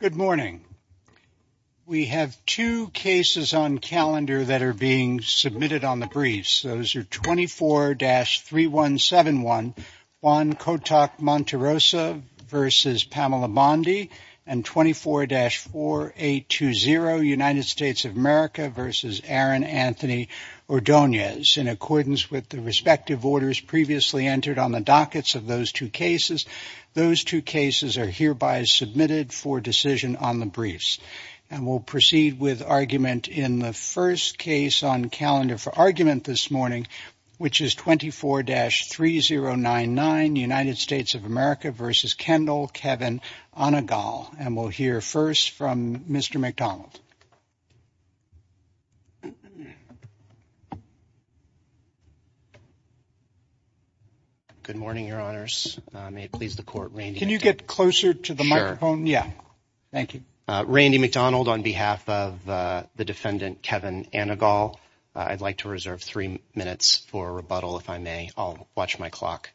Good morning. We have two cases on calendar that are being submitted on the briefs. Those are 24-3171 Juan Cotac-Montarosa v. Pamela Bondi and 24-4820 United States of America v. Aaron Anthony Ordonez. In accordance with the respective orders previously entered on the dockets of those two cases, those two cases are hereby submitted for decision on the briefs. And we'll proceed with argument in the first case on calendar for argument this morning, which is 24-3099 United States of America v. Kendall Kevin Anagal. And we'll hear first from Mr. MacDonald. Good morning, Your Honors. May it please the Court, Randy MacDonald. Can you get closer to the microphone? Sure. Yeah. Thank you. Randy MacDonald on behalf of the defendant Kevin Anagal, I'd like to reserve three minutes for rebuttal if I may. I'll watch my clock.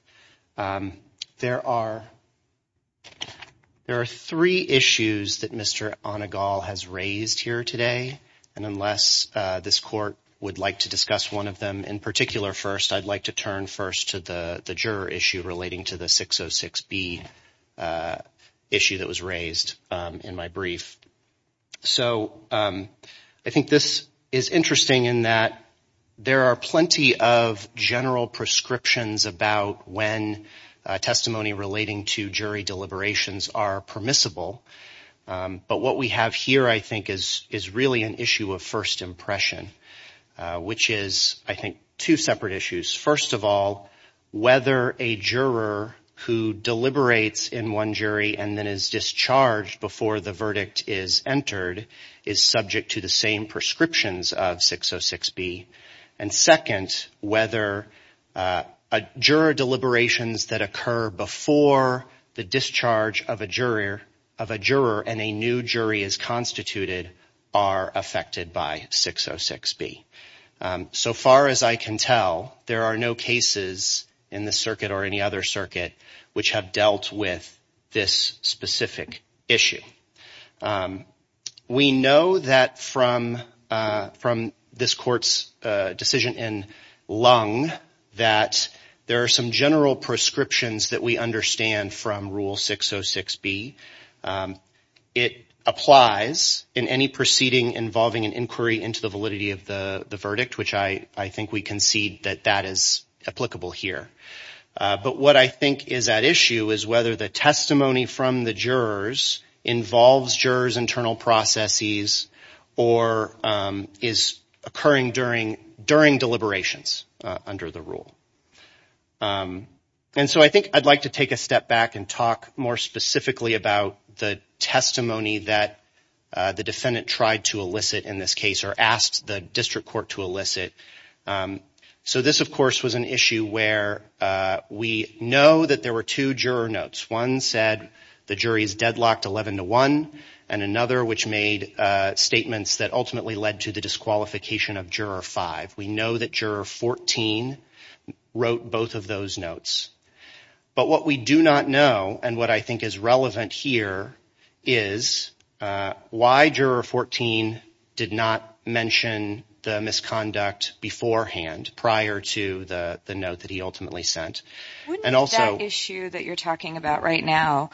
There are three issues that Mr. Anagal has raised here today. And unless this Court would like to discuss one of them in particular first, I'd like to turn first to the juror issue relating to the 606B issue that was raised in my brief. So I think this is interesting in that there are plenty of general prescriptions about when testimony relating to jury deliberations are permissible. But what we have here, I think, is really an issue of first impression, which is, I think, two separate issues. First of all, whether a juror who deliberates in one jury and then is discharged before the verdict is entered is subject to the same prescriptions of 606B. And second, whether a juror deliberations that occur before the discharge of a juror and a new jury is constituted are affected by 606B. So far as I can tell, there are no cases in the circuit or any other circuit which have dealt with this specific issue. We know that from this Court's decision in Lung that there are some general prescriptions that we understand from Rule 606B. It applies in any proceeding involving an inquiry into the validity of the verdict, which I think we concede that that is applicable here. But what I think is at issue is whether the testimony from the jurors involves jurors' internal processes or is occurring during deliberations under the rule. And so I think I'd like to take a step back and talk more specifically about the testimony that the defendant tried to elicit in this case or asked the District Court to elicit. So this, of course, was an issue where we know that there were two juror notes. One said the jury is deadlocked 11-1 and another which made statements that ultimately led to the disqualification of juror 5. We know that juror 14 wrote both of those notes. But what we do not know and what I think is relevant here is why juror 14 did not mention the misconduct beforehand prior to the note that he ultimately sent. And also... Wouldn't that issue that you're talking about right now,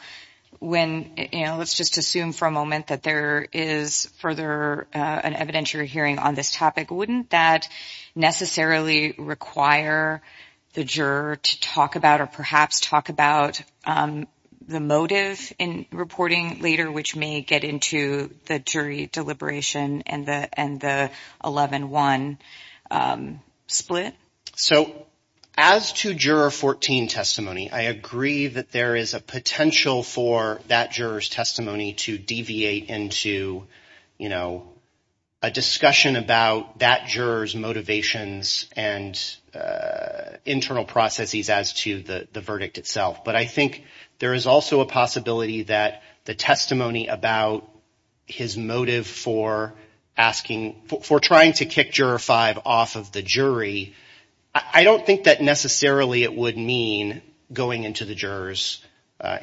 when, you know, let's just assume for a moment that there is further an evidentiary hearing on this topic, wouldn't that necessarily require the juror to talk about or perhaps talk about the motive in reporting later, which may get into the jury deliberation and the 11-1 split? So as to juror 14 testimony, I agree that there is a potential for that juror's testimony to deviate into, you know, a discussion about that juror's motivations and internal processes as to the verdict itself. But I think there is also a possibility that the testimony about his motive for asking... For trying to kick juror 5 off of the jury, I don't think that necessarily it would mean going into the juror's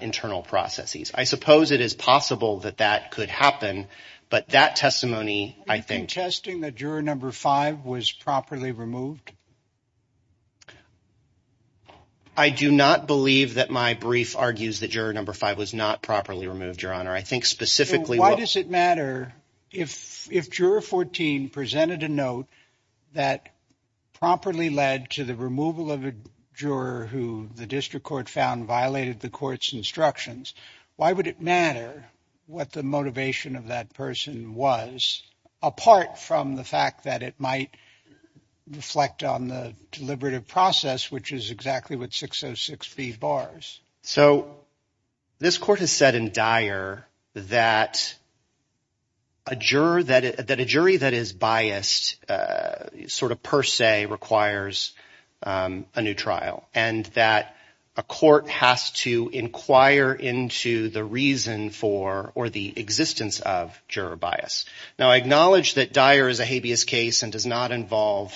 internal processes. I suppose it is possible that that could happen. But that testimony, I think... Are you contesting that juror number 5 was properly removed? I do not believe that my brief argues that juror number 5 was not properly removed, Your Honor. I think specifically... So why does it matter if juror 14 presented a note that properly led to the removal of a juror who the district court found violated the court's instructions? Why would it matter what the motivation of that person was, apart from the fact that it might reflect on the deliberative process, which is exactly what 606b bars? So this court has said in Dyer that a jury that is biased sort of per se requires a new trial and that a court has to inquire into the reason for or the existence of juror bias. Now, I acknowledge that Dyer is a habeas case and does not involve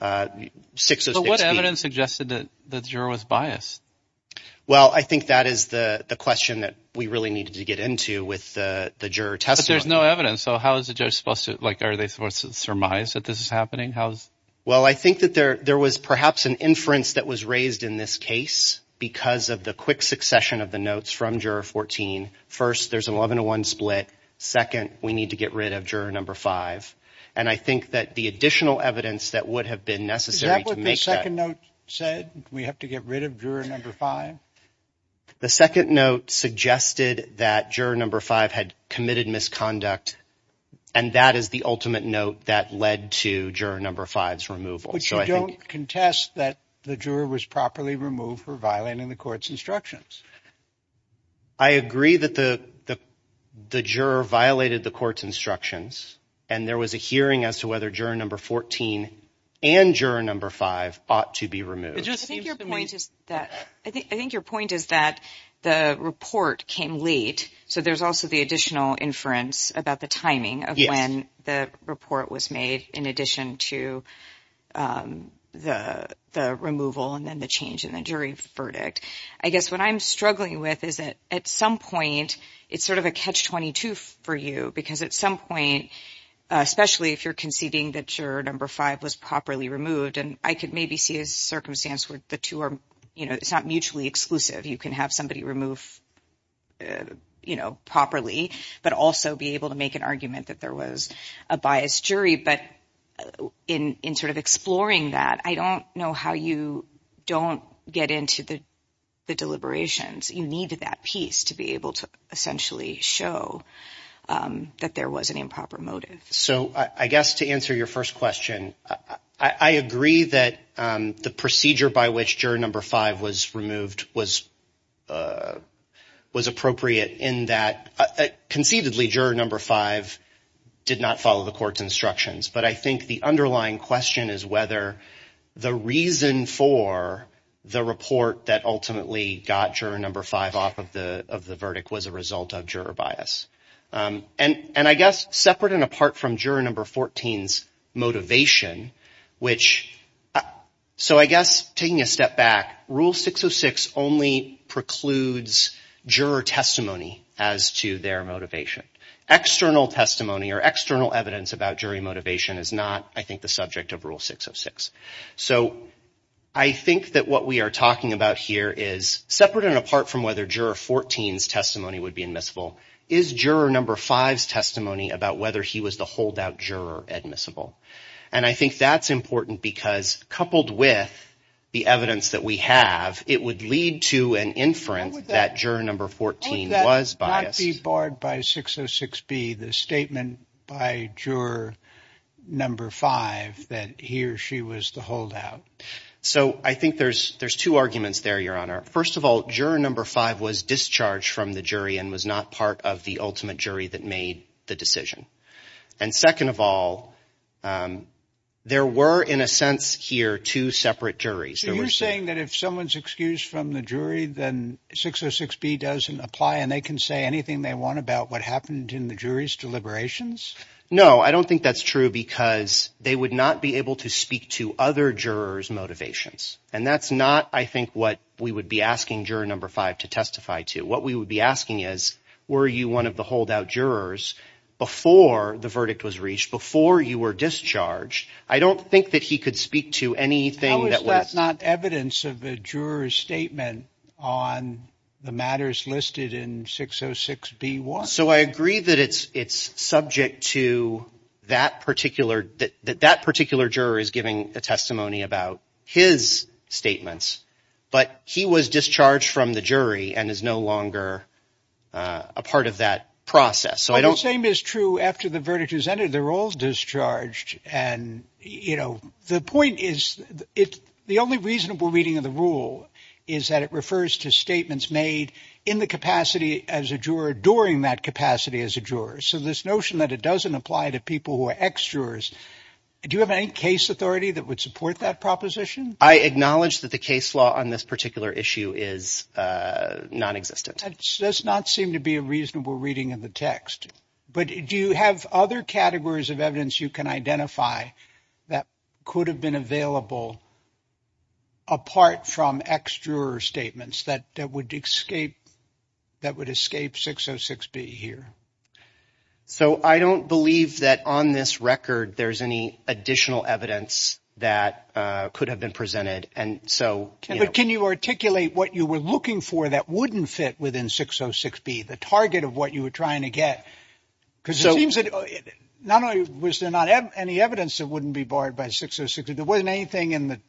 606b. So what evidence suggested that the juror was biased? Well, I think that is the question that we really needed to get into with the juror testimony. But there's no evidence. So how is the judge supposed to... Like, are they supposed to surmise that this is happening? How is... Well, I think that there was perhaps an inference that was raised in this case because of the quick succession of the notes from juror 14. First, there's an 11 to 1 split. Second, we need to get rid of juror number 5. And I think that the additional evidence that would have been necessary to make that... Juror number 5? The second note suggested that juror number 5 had committed misconduct. And that is the ultimate note that led to juror number 5's removal. But you don't contest that the juror was properly removed for violating the court's instructions. I agree that the juror violated the court's instructions. And there was a hearing as to whether juror number 14 and juror number 5 ought to be removed. I think your point is that the report came late. So there's also the additional inference about the timing of when the report was made in addition to the removal and then the change in the jury verdict. I guess what I'm struggling with is that at some point, it's sort of a catch-22 for you because at some point, especially if you're conceding that juror number 5 was properly removed. And I could maybe see a circumstance where the two are... You know, it's not mutually exclusive. You can have somebody removed, you know, properly, but also be able to make an argument that there was a biased jury. But in sort of exploring that, I don't know how you don't get into the deliberations. You needed that piece to be able to essentially show that there was an improper motive. So I guess to answer your first question, I agree that the procedure by which juror number 5 was removed was appropriate in that conceitedly juror number 5 did not follow the court's instructions. But I think the underlying question is whether the reason for the report that ultimately got juror number 5 off of the verdict was a result of juror bias. And I guess separate and apart from juror number 14's motivation, which... So I guess taking a step back, Rule 606 only precludes juror testimony as to their motivation. External testimony or external evidence about jury motivation is not, I think, the subject of Rule 606. So I think that what we are talking about here is separate and apart from whether juror 14's testimony would be admissible, is juror number 5's testimony about whether he was the holdout juror admissible. And I think that's important because coupled with the evidence that we have, it would lead to an inference that juror number 14 was biased. Would that not be barred by 606B, the statement by juror number 5 that he or she was the holdout? So I think there's two arguments there, Your Honor. First of all, juror number 5 was discharged from the jury and was not part of the ultimate jury that made the decision. And second of all, there were, in a sense here, two separate juries. So you're saying that if someone's excused from the jury, then 606B doesn't apply and they can say anything they want about what happened in the jury's deliberations? No, I don't think that's true because they would not be able to speak to other jurors' motivations. And that's not, I think, what we would be asking juror number 5 to testify to. What we would be asking is, were you one of the holdout jurors before the verdict was reached, before you were discharged? I don't think that he could speak to anything that was not evidence of the juror's statement on the matters listed in 606B-1. So I agree that it's it's subject to that particular that that particular juror is giving a testimony about his statements, but he was discharged from the jury and is no longer a part of that process. So I don't think it's true. After the verdict is entered, they're all discharged. And, you know, the point is it's the only reasonable reading of the rule is that it refers to statements made in the capacity as a juror during that capacity as a juror. So this notion that it doesn't apply to people who are ex-jurors, do you have any case authority that would support that proposition? I acknowledge that the case law on this particular issue is nonexistent. It does not seem to be a reasonable reading of the text. But do you have other categories of evidence you can identify that could have been available? Apart from ex-juror statements that that would escape that would escape 606B here. So I don't believe that on this record there's any additional evidence that could have been presented. And so can you articulate what you were looking for that wouldn't fit within 606B, the target of what you were trying to get? Because it seems that not only was there not any evidence that wouldn't be barred by 606B, there wasn't anything in the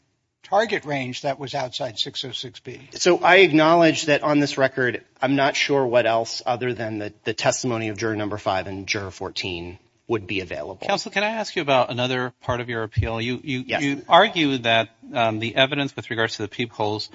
target range that was outside 606B. So I acknowledge that on this record, I'm not sure what else other than the testimony of juror number five and juror 14 would be available. Counsel, can I ask you about another part of your appeal? You argue that the evidence with regards to the peepholes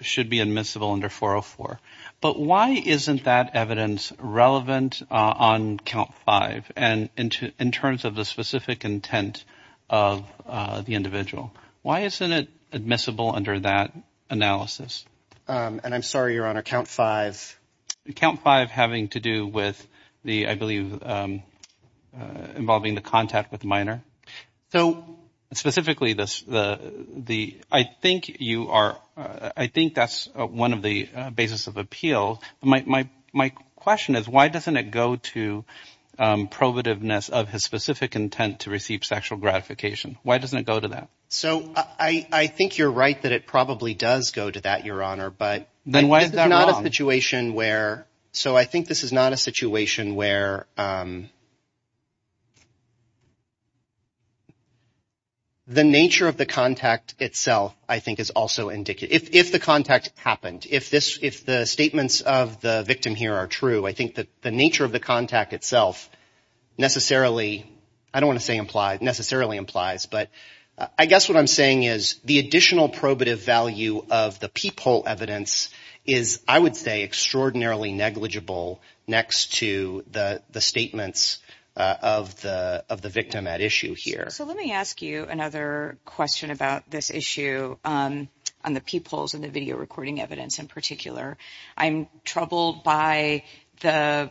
should be admissible under 404. But why isn't that evidence relevant on count five and in terms of the specific intent of the individual? Why isn't it admissible under that analysis? And I'm sorry, Your Honor, count five. Count five having to do with the I believe involving the contact with minor. So specifically, I think that's one of the basis of appeal. My question is why doesn't it go to probativeness of his specific intent to receive sexual gratification? Why doesn't it go to that? So I think you're right that it probably does go to that, Your Honor. Then why is that wrong? So I think this is not a situation where the nature of the contact itself, I think, is also indicative. If the contact happened, if the statements of the victim here are true, I think that the nature of the contact itself necessarily, I don't want to say necessarily implies, but I guess what I'm saying is the additional probative value of the peephole evidence is I would say extraordinarily negligible next to the statements of the victim at issue here. So let me ask you another question about this issue on the peepholes and the video recording evidence in particular. I'm troubled by the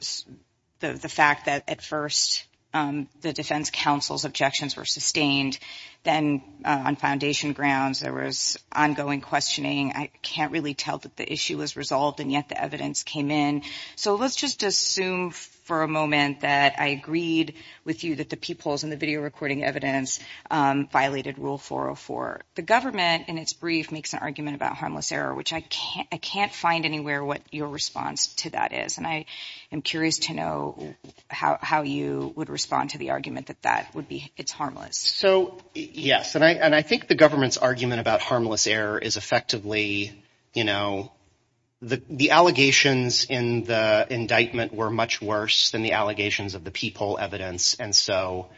fact that at first the defense counsel's objections were sustained. Then on foundation grounds, there was ongoing questioning. I can't really tell that the issue was resolved, and yet the evidence came in. So let's just assume for a moment that I agreed with you that the peepholes and the video recording evidence violated Rule 404. The government in its brief makes an argument about harmless error, which I can't find anywhere what your response to that is. And I am curious to know how you would respond to the argument that that would be, it's harmless. So, yes, and I think the government's argument about harmless error is effectively, you know, the allegations in the indictment were much worse than the allegations of the peephole evidence. And so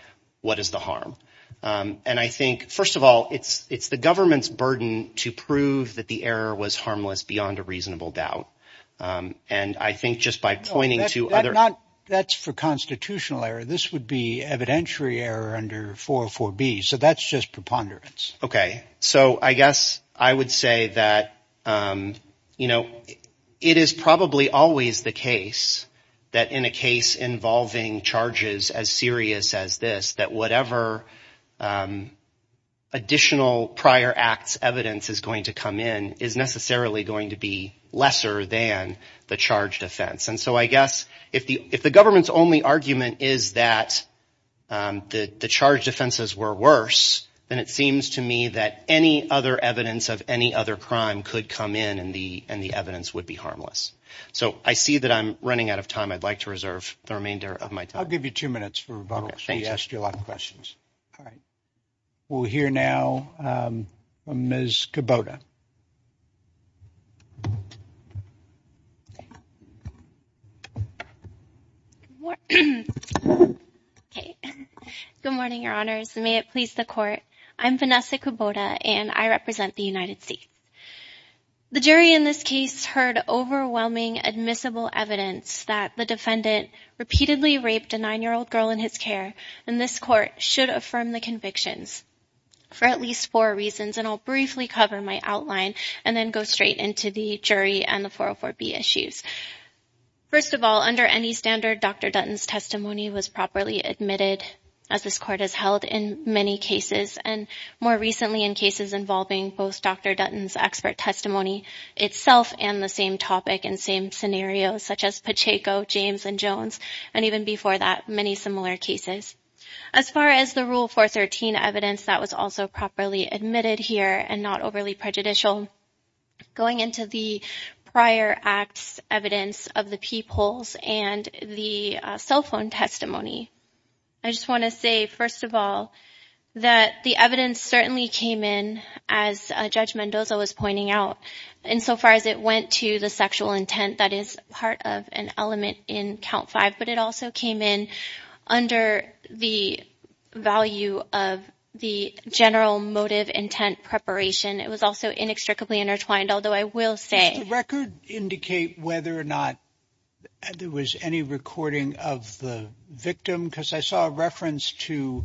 what is the harm? And I think, first of all, it's the government's burden to prove that the error was harmless beyond a reasonable doubt. And I think just by pointing to other. Not that's for constitutional error. This would be evidentiary error under 404 B. So that's just preponderance. OK, so I guess I would say that, you know, it is probably always the case that in a case involving charges as serious as this, that whatever additional prior acts evidence is going to come in is necessarily going to be lesser than the charge defense. And so I guess if the if the government's only argument is that the charge defenses were worse, then it seems to me that any other evidence of any other crime could come in and the and the evidence would be harmless. So I see that I'm running out of time. I'd like to reserve the remainder of my time. I'll give you two minutes for rebuttal. I asked you a lot of questions. All right. We'll hear now. Ms. Kubota. Good morning, your honors. May it please the court. I'm Vanessa Kubota and I represent the United States. The jury in this case heard overwhelming admissible evidence that the defendant repeatedly raped a nine year old girl in his care. And this court should affirm the convictions for at least four reasons. And I'll briefly cover my outline and then go straight into the jury and the 404 B issues. First of all, under any standard, Dr. Dutton's testimony was properly admitted, as this court has held in many cases and more recently in cases involving both Dr. Dutton's expert testimony itself and the same topic and same scenarios such as Pacheco, James and Jones, and even before that, many similar cases. As far as the rule for 13 evidence that was also properly admitted here and not overly prejudicial. Going into the prior acts, evidence of the people's and the cell phone testimony. I just want to say, first of all, that the evidence certainly came in as Judge Mendoza was pointing out. And so far as it went to the sexual intent, that is part of an element in count five. But it also came in under the value of the general motive intent preparation. It was also inextricably intertwined, although I will say the record indicate whether or not there was any recording of the victim. Because I saw a reference to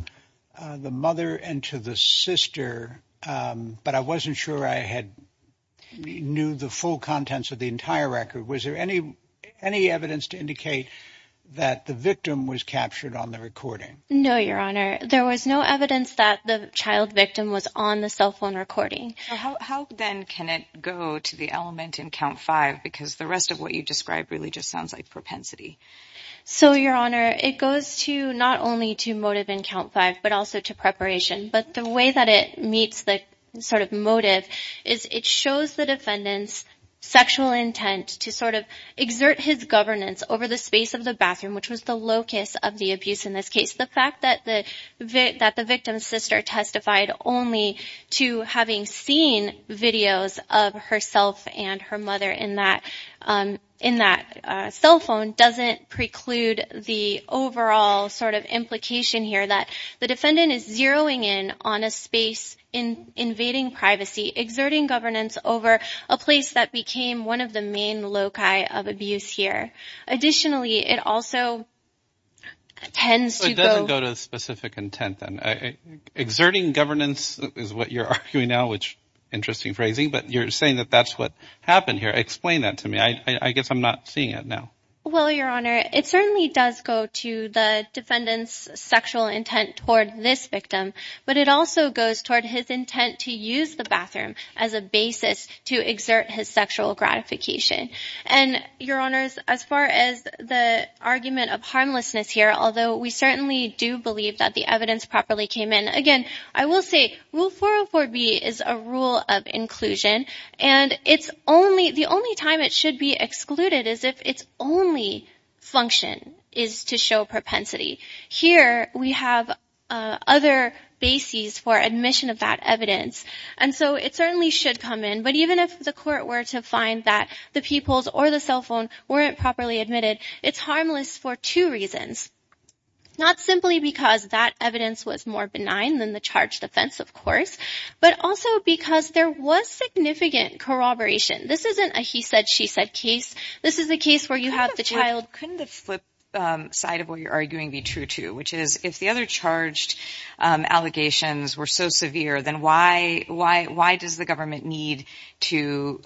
the mother and to the sister. But I wasn't sure I had knew the full contents of the entire record. Was there any any evidence to indicate that the victim was captured on the recording? No, Your Honor. There was no evidence that the child victim was on the cell phone recording. How then can it go to the element in count five? Because the rest of what you described really just sounds like propensity. So, Your Honor, it goes to not only to motive in count five, but also to preparation. But the way that it meets the sort of motive is it shows the defendant's sexual intent to sort of exert his governance over the space of the bathroom, which was the locus of the abuse in this case. The fact that the victim's sister testified only to having seen videos of herself and her mother in that cell phone doesn't preclude the overall sort of implication here that the defendant is zeroing in on a space in invading privacy, exerting governance over a place that became one of the main loci of abuse here. Additionally, it also tends to go to specific intent and exerting governance is what you're arguing now, which interesting phrasing. But you're saying that that's what happened here. Explain that to me. I guess I'm not seeing it now. Well, Your Honor, it certainly does go to the defendant's sexual intent toward this victim. But it also goes toward his intent to use the bathroom as a basis to exert his sexual gratification. And, Your Honors, as far as the argument of harmlessness here, although we certainly do believe that the evidence properly came in again, I will say Rule 404B is a rule of inclusion. And it's only the only time it should be excluded is if its only function is to show propensity. Here we have other bases for admission of that evidence. And so it certainly should come in. But even if the court were to find that the pupils or the cell phone weren't properly admitted, it's harmless for two reasons. Not simply because that evidence was more benign than the charged offense, of course, but also because there was significant corroboration. This isn't a he said, she said case. This is a case where you have the child. Couldn't the flip side of what you're arguing be true, too? Which is if the other charged allegations were so severe, then why? Why? Why does the government need to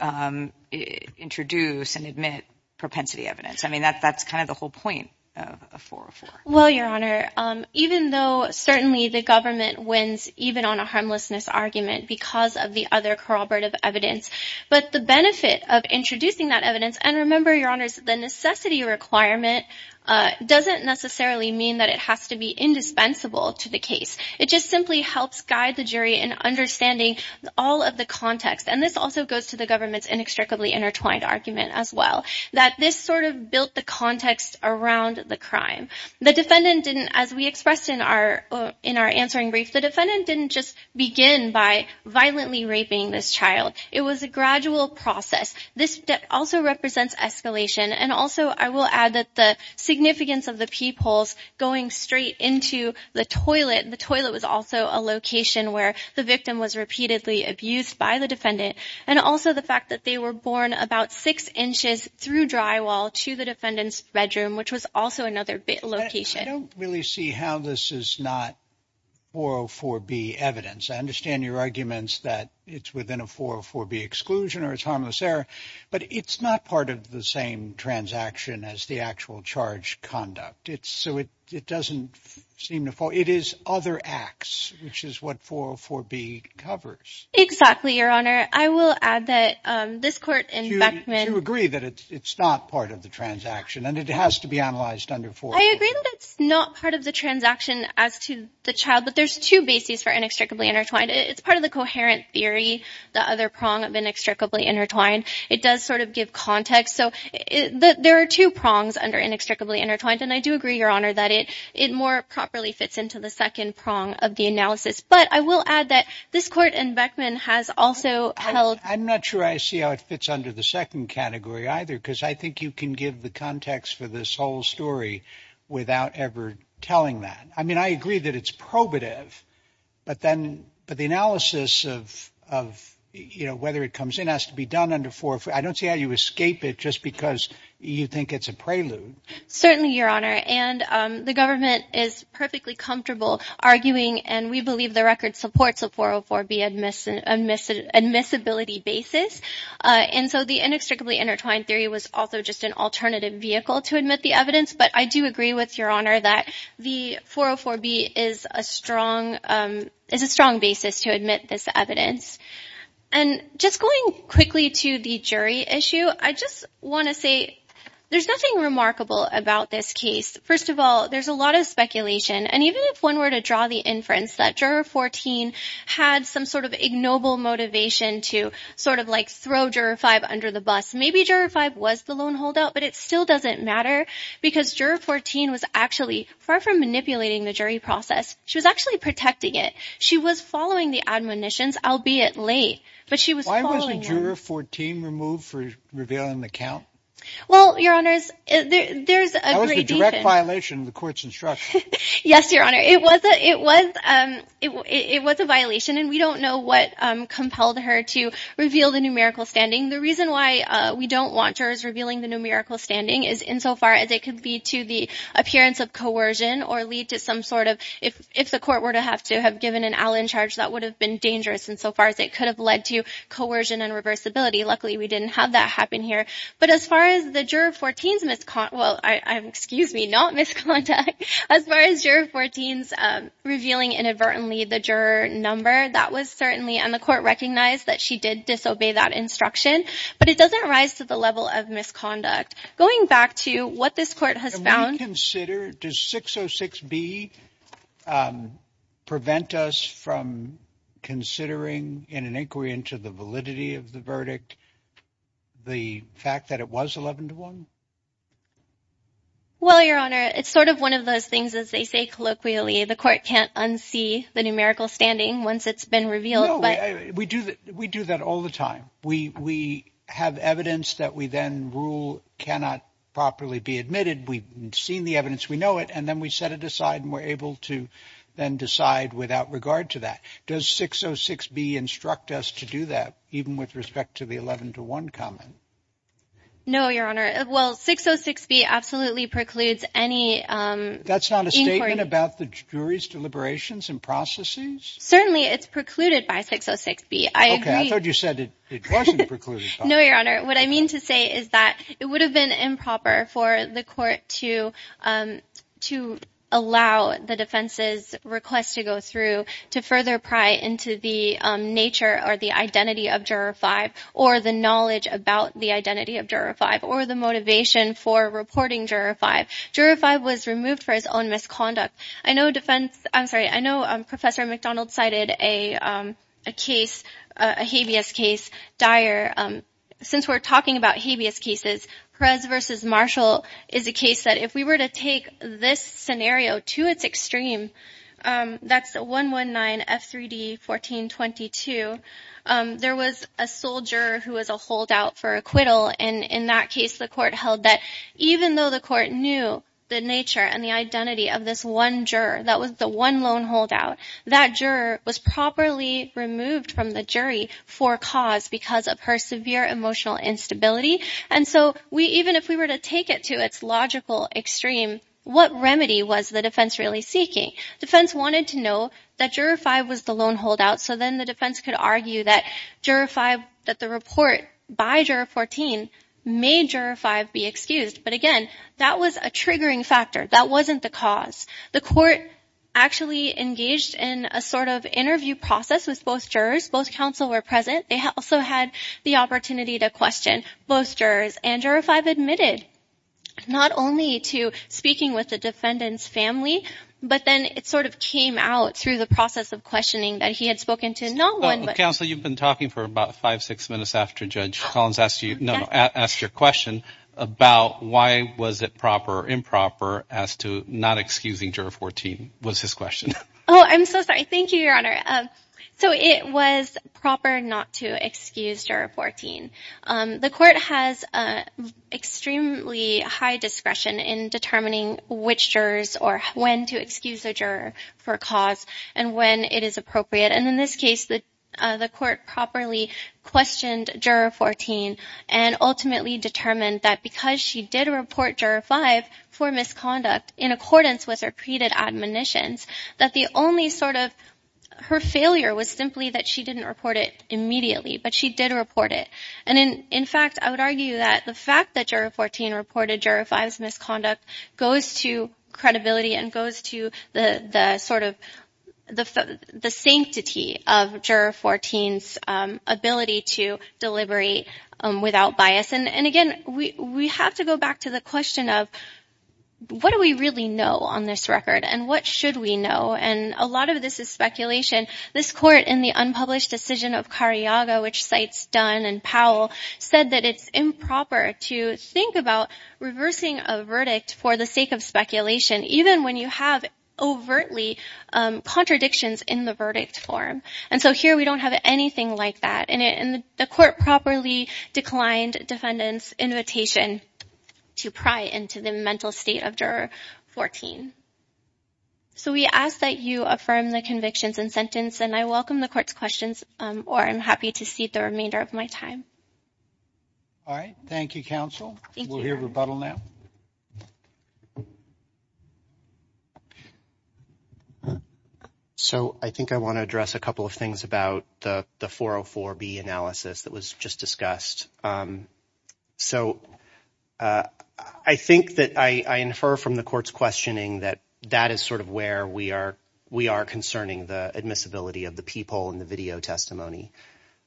introduce and admit propensity evidence? I mean, that's kind of the whole point of 404. Well, Your Honor, even though certainly the government wins even on a harmlessness argument because of the other corroborative evidence. But the benefit of introducing that evidence. And remember, Your Honor, the necessity requirement doesn't necessarily mean that it has to be indispensable to the case. It just simply helps guide the jury in understanding all of the context. And this also goes to the government's inextricably intertwined argument as well, that this sort of built the context around the crime. The defendant didn't, as we expressed in our in our answering brief, the defendant didn't just begin by violently raping this child. It was a gradual process. This also represents escalation. And also, I will add that the significance of the people's going straight into the toilet. The toilet was also a location where the victim was repeatedly abused by the defendant. And also the fact that they were born about six inches through drywall to the defendant's bedroom, which was also another location. I don't really see how this is not 404B evidence. I understand your arguments that it's within a 404B exclusion or it's harmless error. But it's not part of the same transaction as the actual charge conduct. So it doesn't seem to fall. It is other acts, which is what 404B covers. Exactly, Your Honor. I will add that this court in Beckman. To agree that it's not part of the transaction and it has to be analyzed under 404B. I agree that it's not part of the transaction as to the child. But there's two bases for inextricably intertwined. It's part of the coherent theory. The other prong of inextricably intertwined. It does sort of give context. So there are two prongs under inextricably intertwined. And I do agree, Your Honor, that it it more properly fits into the second prong of the analysis. But I will add that this court in Beckman has also held. I'm not sure I see how it fits under the second category either, because I think you can give the context for this whole story without ever telling that. I mean, I agree that it's probative, but then. But the analysis of, you know, whether it comes in has to be done under 404. I don't see how you escape it just because you think it's a prelude. Certainly, Your Honor. And the government is perfectly comfortable arguing. And we believe the record supports a 404 be admissible admissibility basis. And so the inextricably intertwined theory was also just an alternative vehicle to admit the evidence. But I do agree with your honor that the 404 B is a strong is a strong basis to admit this evidence. And just going quickly to the jury issue, I just want to say there's nothing remarkable about this case. First of all, there's a lot of speculation. And even if one were to draw the inference that juror 14 had some sort of ignoble motivation to sort of like throw juror five under the bus, maybe juror five was the lone holdout. But it still doesn't matter because juror 14 was actually far from manipulating the jury process. She was actually protecting it. She was following the admonitions, albeit late. But she was following juror 14 removed for revealing the count. Well, your honors, there's a direct violation of the court's instruction. Yes, your honor. It was a it was it was a violation. And we don't know what compelled her to reveal the numerical standing. The reason why we don't want jurors revealing the numerical standing is insofar as it could be to the appearance of coercion or lead to some sort of. If if the court were to have to have given an Allen charge, that would have been dangerous. And so far as it could have led to coercion and reversibility. Luckily, we didn't have that happen here. But as far as the juror 14's misconduct. Well, I'm excuse me, not misconduct. As far as your 14's revealing inadvertently the juror number. That was certainly on the court recognized that she did disobey that instruction. But it doesn't rise to the level of misconduct. Going back to what this court has found. Does 606 B prevent us from considering in an inquiry into the validity of the verdict? The fact that it was 11 to one. Well, your honor, it's sort of one of those things, as they say, colloquially, the court can't unsee the numerical standing once it's been revealed. We do that all the time. We we have evidence that we then rule cannot properly be admitted. We've seen the evidence. We know it. And then we set it aside and we're able to then decide without regard to that. Does 606 B instruct us to do that even with respect to the 11 to one comment? No, your honor. Well, 606 B absolutely precludes any. That's not a statement about the jury's deliberations and processes. Certainly it's precluded by 606 B. I thought you said it wasn't precluded. No, your honor. What I mean to say is that it would have been improper for the court to to allow the defense's request to go through, to further pry into the nature or the identity of juror five or the knowledge about the identity of juror five or the motivation for reporting juror five. Juror five was removed for his own misconduct. I know defense. I'm sorry. I know Professor McDonald cited a case, a habeas case dire. Since we're talking about habeas cases, Perez versus Marshall is a case that if we were to take this scenario to its extreme, that's the one one nine F3D 1422. There was a soldier who was a holdout for acquittal. And in that case, the court held that even though the court knew the nature and the identity of this one juror, that was the one loan holdout that juror was properly removed from the jury for cause because of her severe emotional instability. And so we even if we were to take it to its logical extreme, what remedy was the defense really seeking? Defense wanted to know that juror five was the loan holdout. So then the defense could argue that juror five that the report by juror 14 major five be excused. But again, that was a triggering factor. That wasn't the cause. The court actually engaged in a sort of interview process with both jurors. Both counsel were present. They also had the opportunity to question both jurors and juror five admitted not only to speaking with the defendant's family, but then it sort of came out through the process of questioning that he had spoken to not one. Counsel, you've been talking for about five, six minutes after Judge Collins asked you to ask your question about why was it proper, improper as to not excusing juror 14 was his question. Oh, I'm so sorry. Thank you, Your Honor. So it was proper not to excuse juror 14. The court has extremely high discretion in determining which jurors or when to excuse a juror for cause and when it is appropriate. And in this case, the court properly questioned juror 14 and ultimately determined that because she did report juror five for misconduct in accordance with her repeated admonitions, that the only sort of her failure was simply that she didn't report it immediately, but she did report it. And in fact, I would argue that the fact that juror 14 reported juror five's misconduct goes to credibility and goes to the sort of the sanctity of juror 14's ability to deliberate without bias. And again, we have to go back to the question of what do we really know on this record and what should we know? And a lot of this is speculation. This court in the unpublished decision of Cariaga, which cites Dunn and Powell, said that it's improper to think about reversing a verdict for the sake of speculation, even when you have overtly contradictions in the verdict form. And so here we don't have anything like that. And the court properly declined defendant's invitation to pry into the mental state of juror 14. So we ask that you affirm the convictions and sentence and I welcome the court's questions or I'm happy to cede the remainder of my time. All right. Thank you, counsel. We'll hear rebuttal now. So I think I want to address a couple of things about the 404B analysis that was just discussed. So I think that I infer from the court's questioning that that is sort of where we are. We are concerning the admissibility of the people in the video testimony.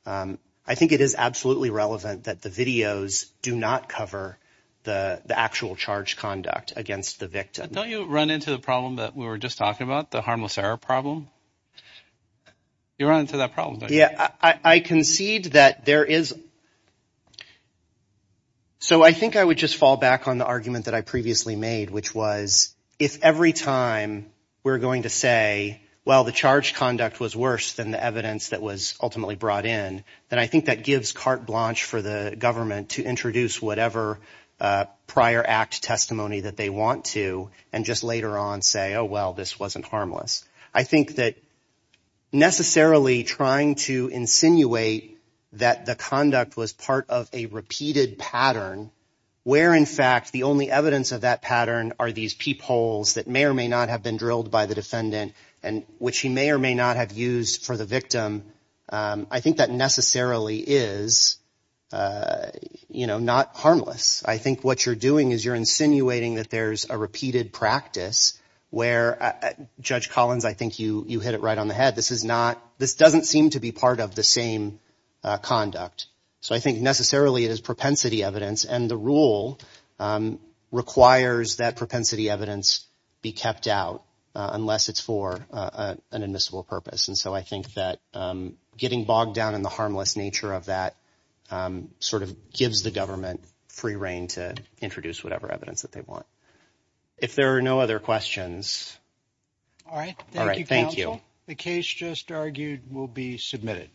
I think it is absolutely relevant that the videos do not cover the actual charge conduct against the victim. Don't you run into the problem that we were just talking about, the harmless error problem? You run into that problem. Yeah, I concede that there is. So I think I would just fall back on the argument that I previously made, which was if every time we're going to say, well, the charge conduct was worse than the evidence that was ultimately brought in, then I think that gives carte blanche for the government to introduce whatever prior act testimony that they want to. And just later on say, oh, well, this wasn't harmless. I think that necessarily trying to insinuate that the conduct was part of a repeated pattern where, in fact, the only evidence of that pattern are these peepholes that may or may not have been drilled by the defendant and which he may or may not have used for the victim. I think that necessarily is, you know, not harmless. I think what you're doing is you're insinuating that there's a repeated practice where, Judge Collins, I think you hit it right on the head. This is not this doesn't seem to be part of the same conduct. So I think necessarily it is propensity evidence. And the rule requires that propensity evidence be kept out unless it's for an admissible purpose. And so I think that getting bogged down in the harmless nature of that sort of gives the government free reign to introduce whatever evidence that they want. If there are no other questions. All right. Thank you. The case just argued will be submitted.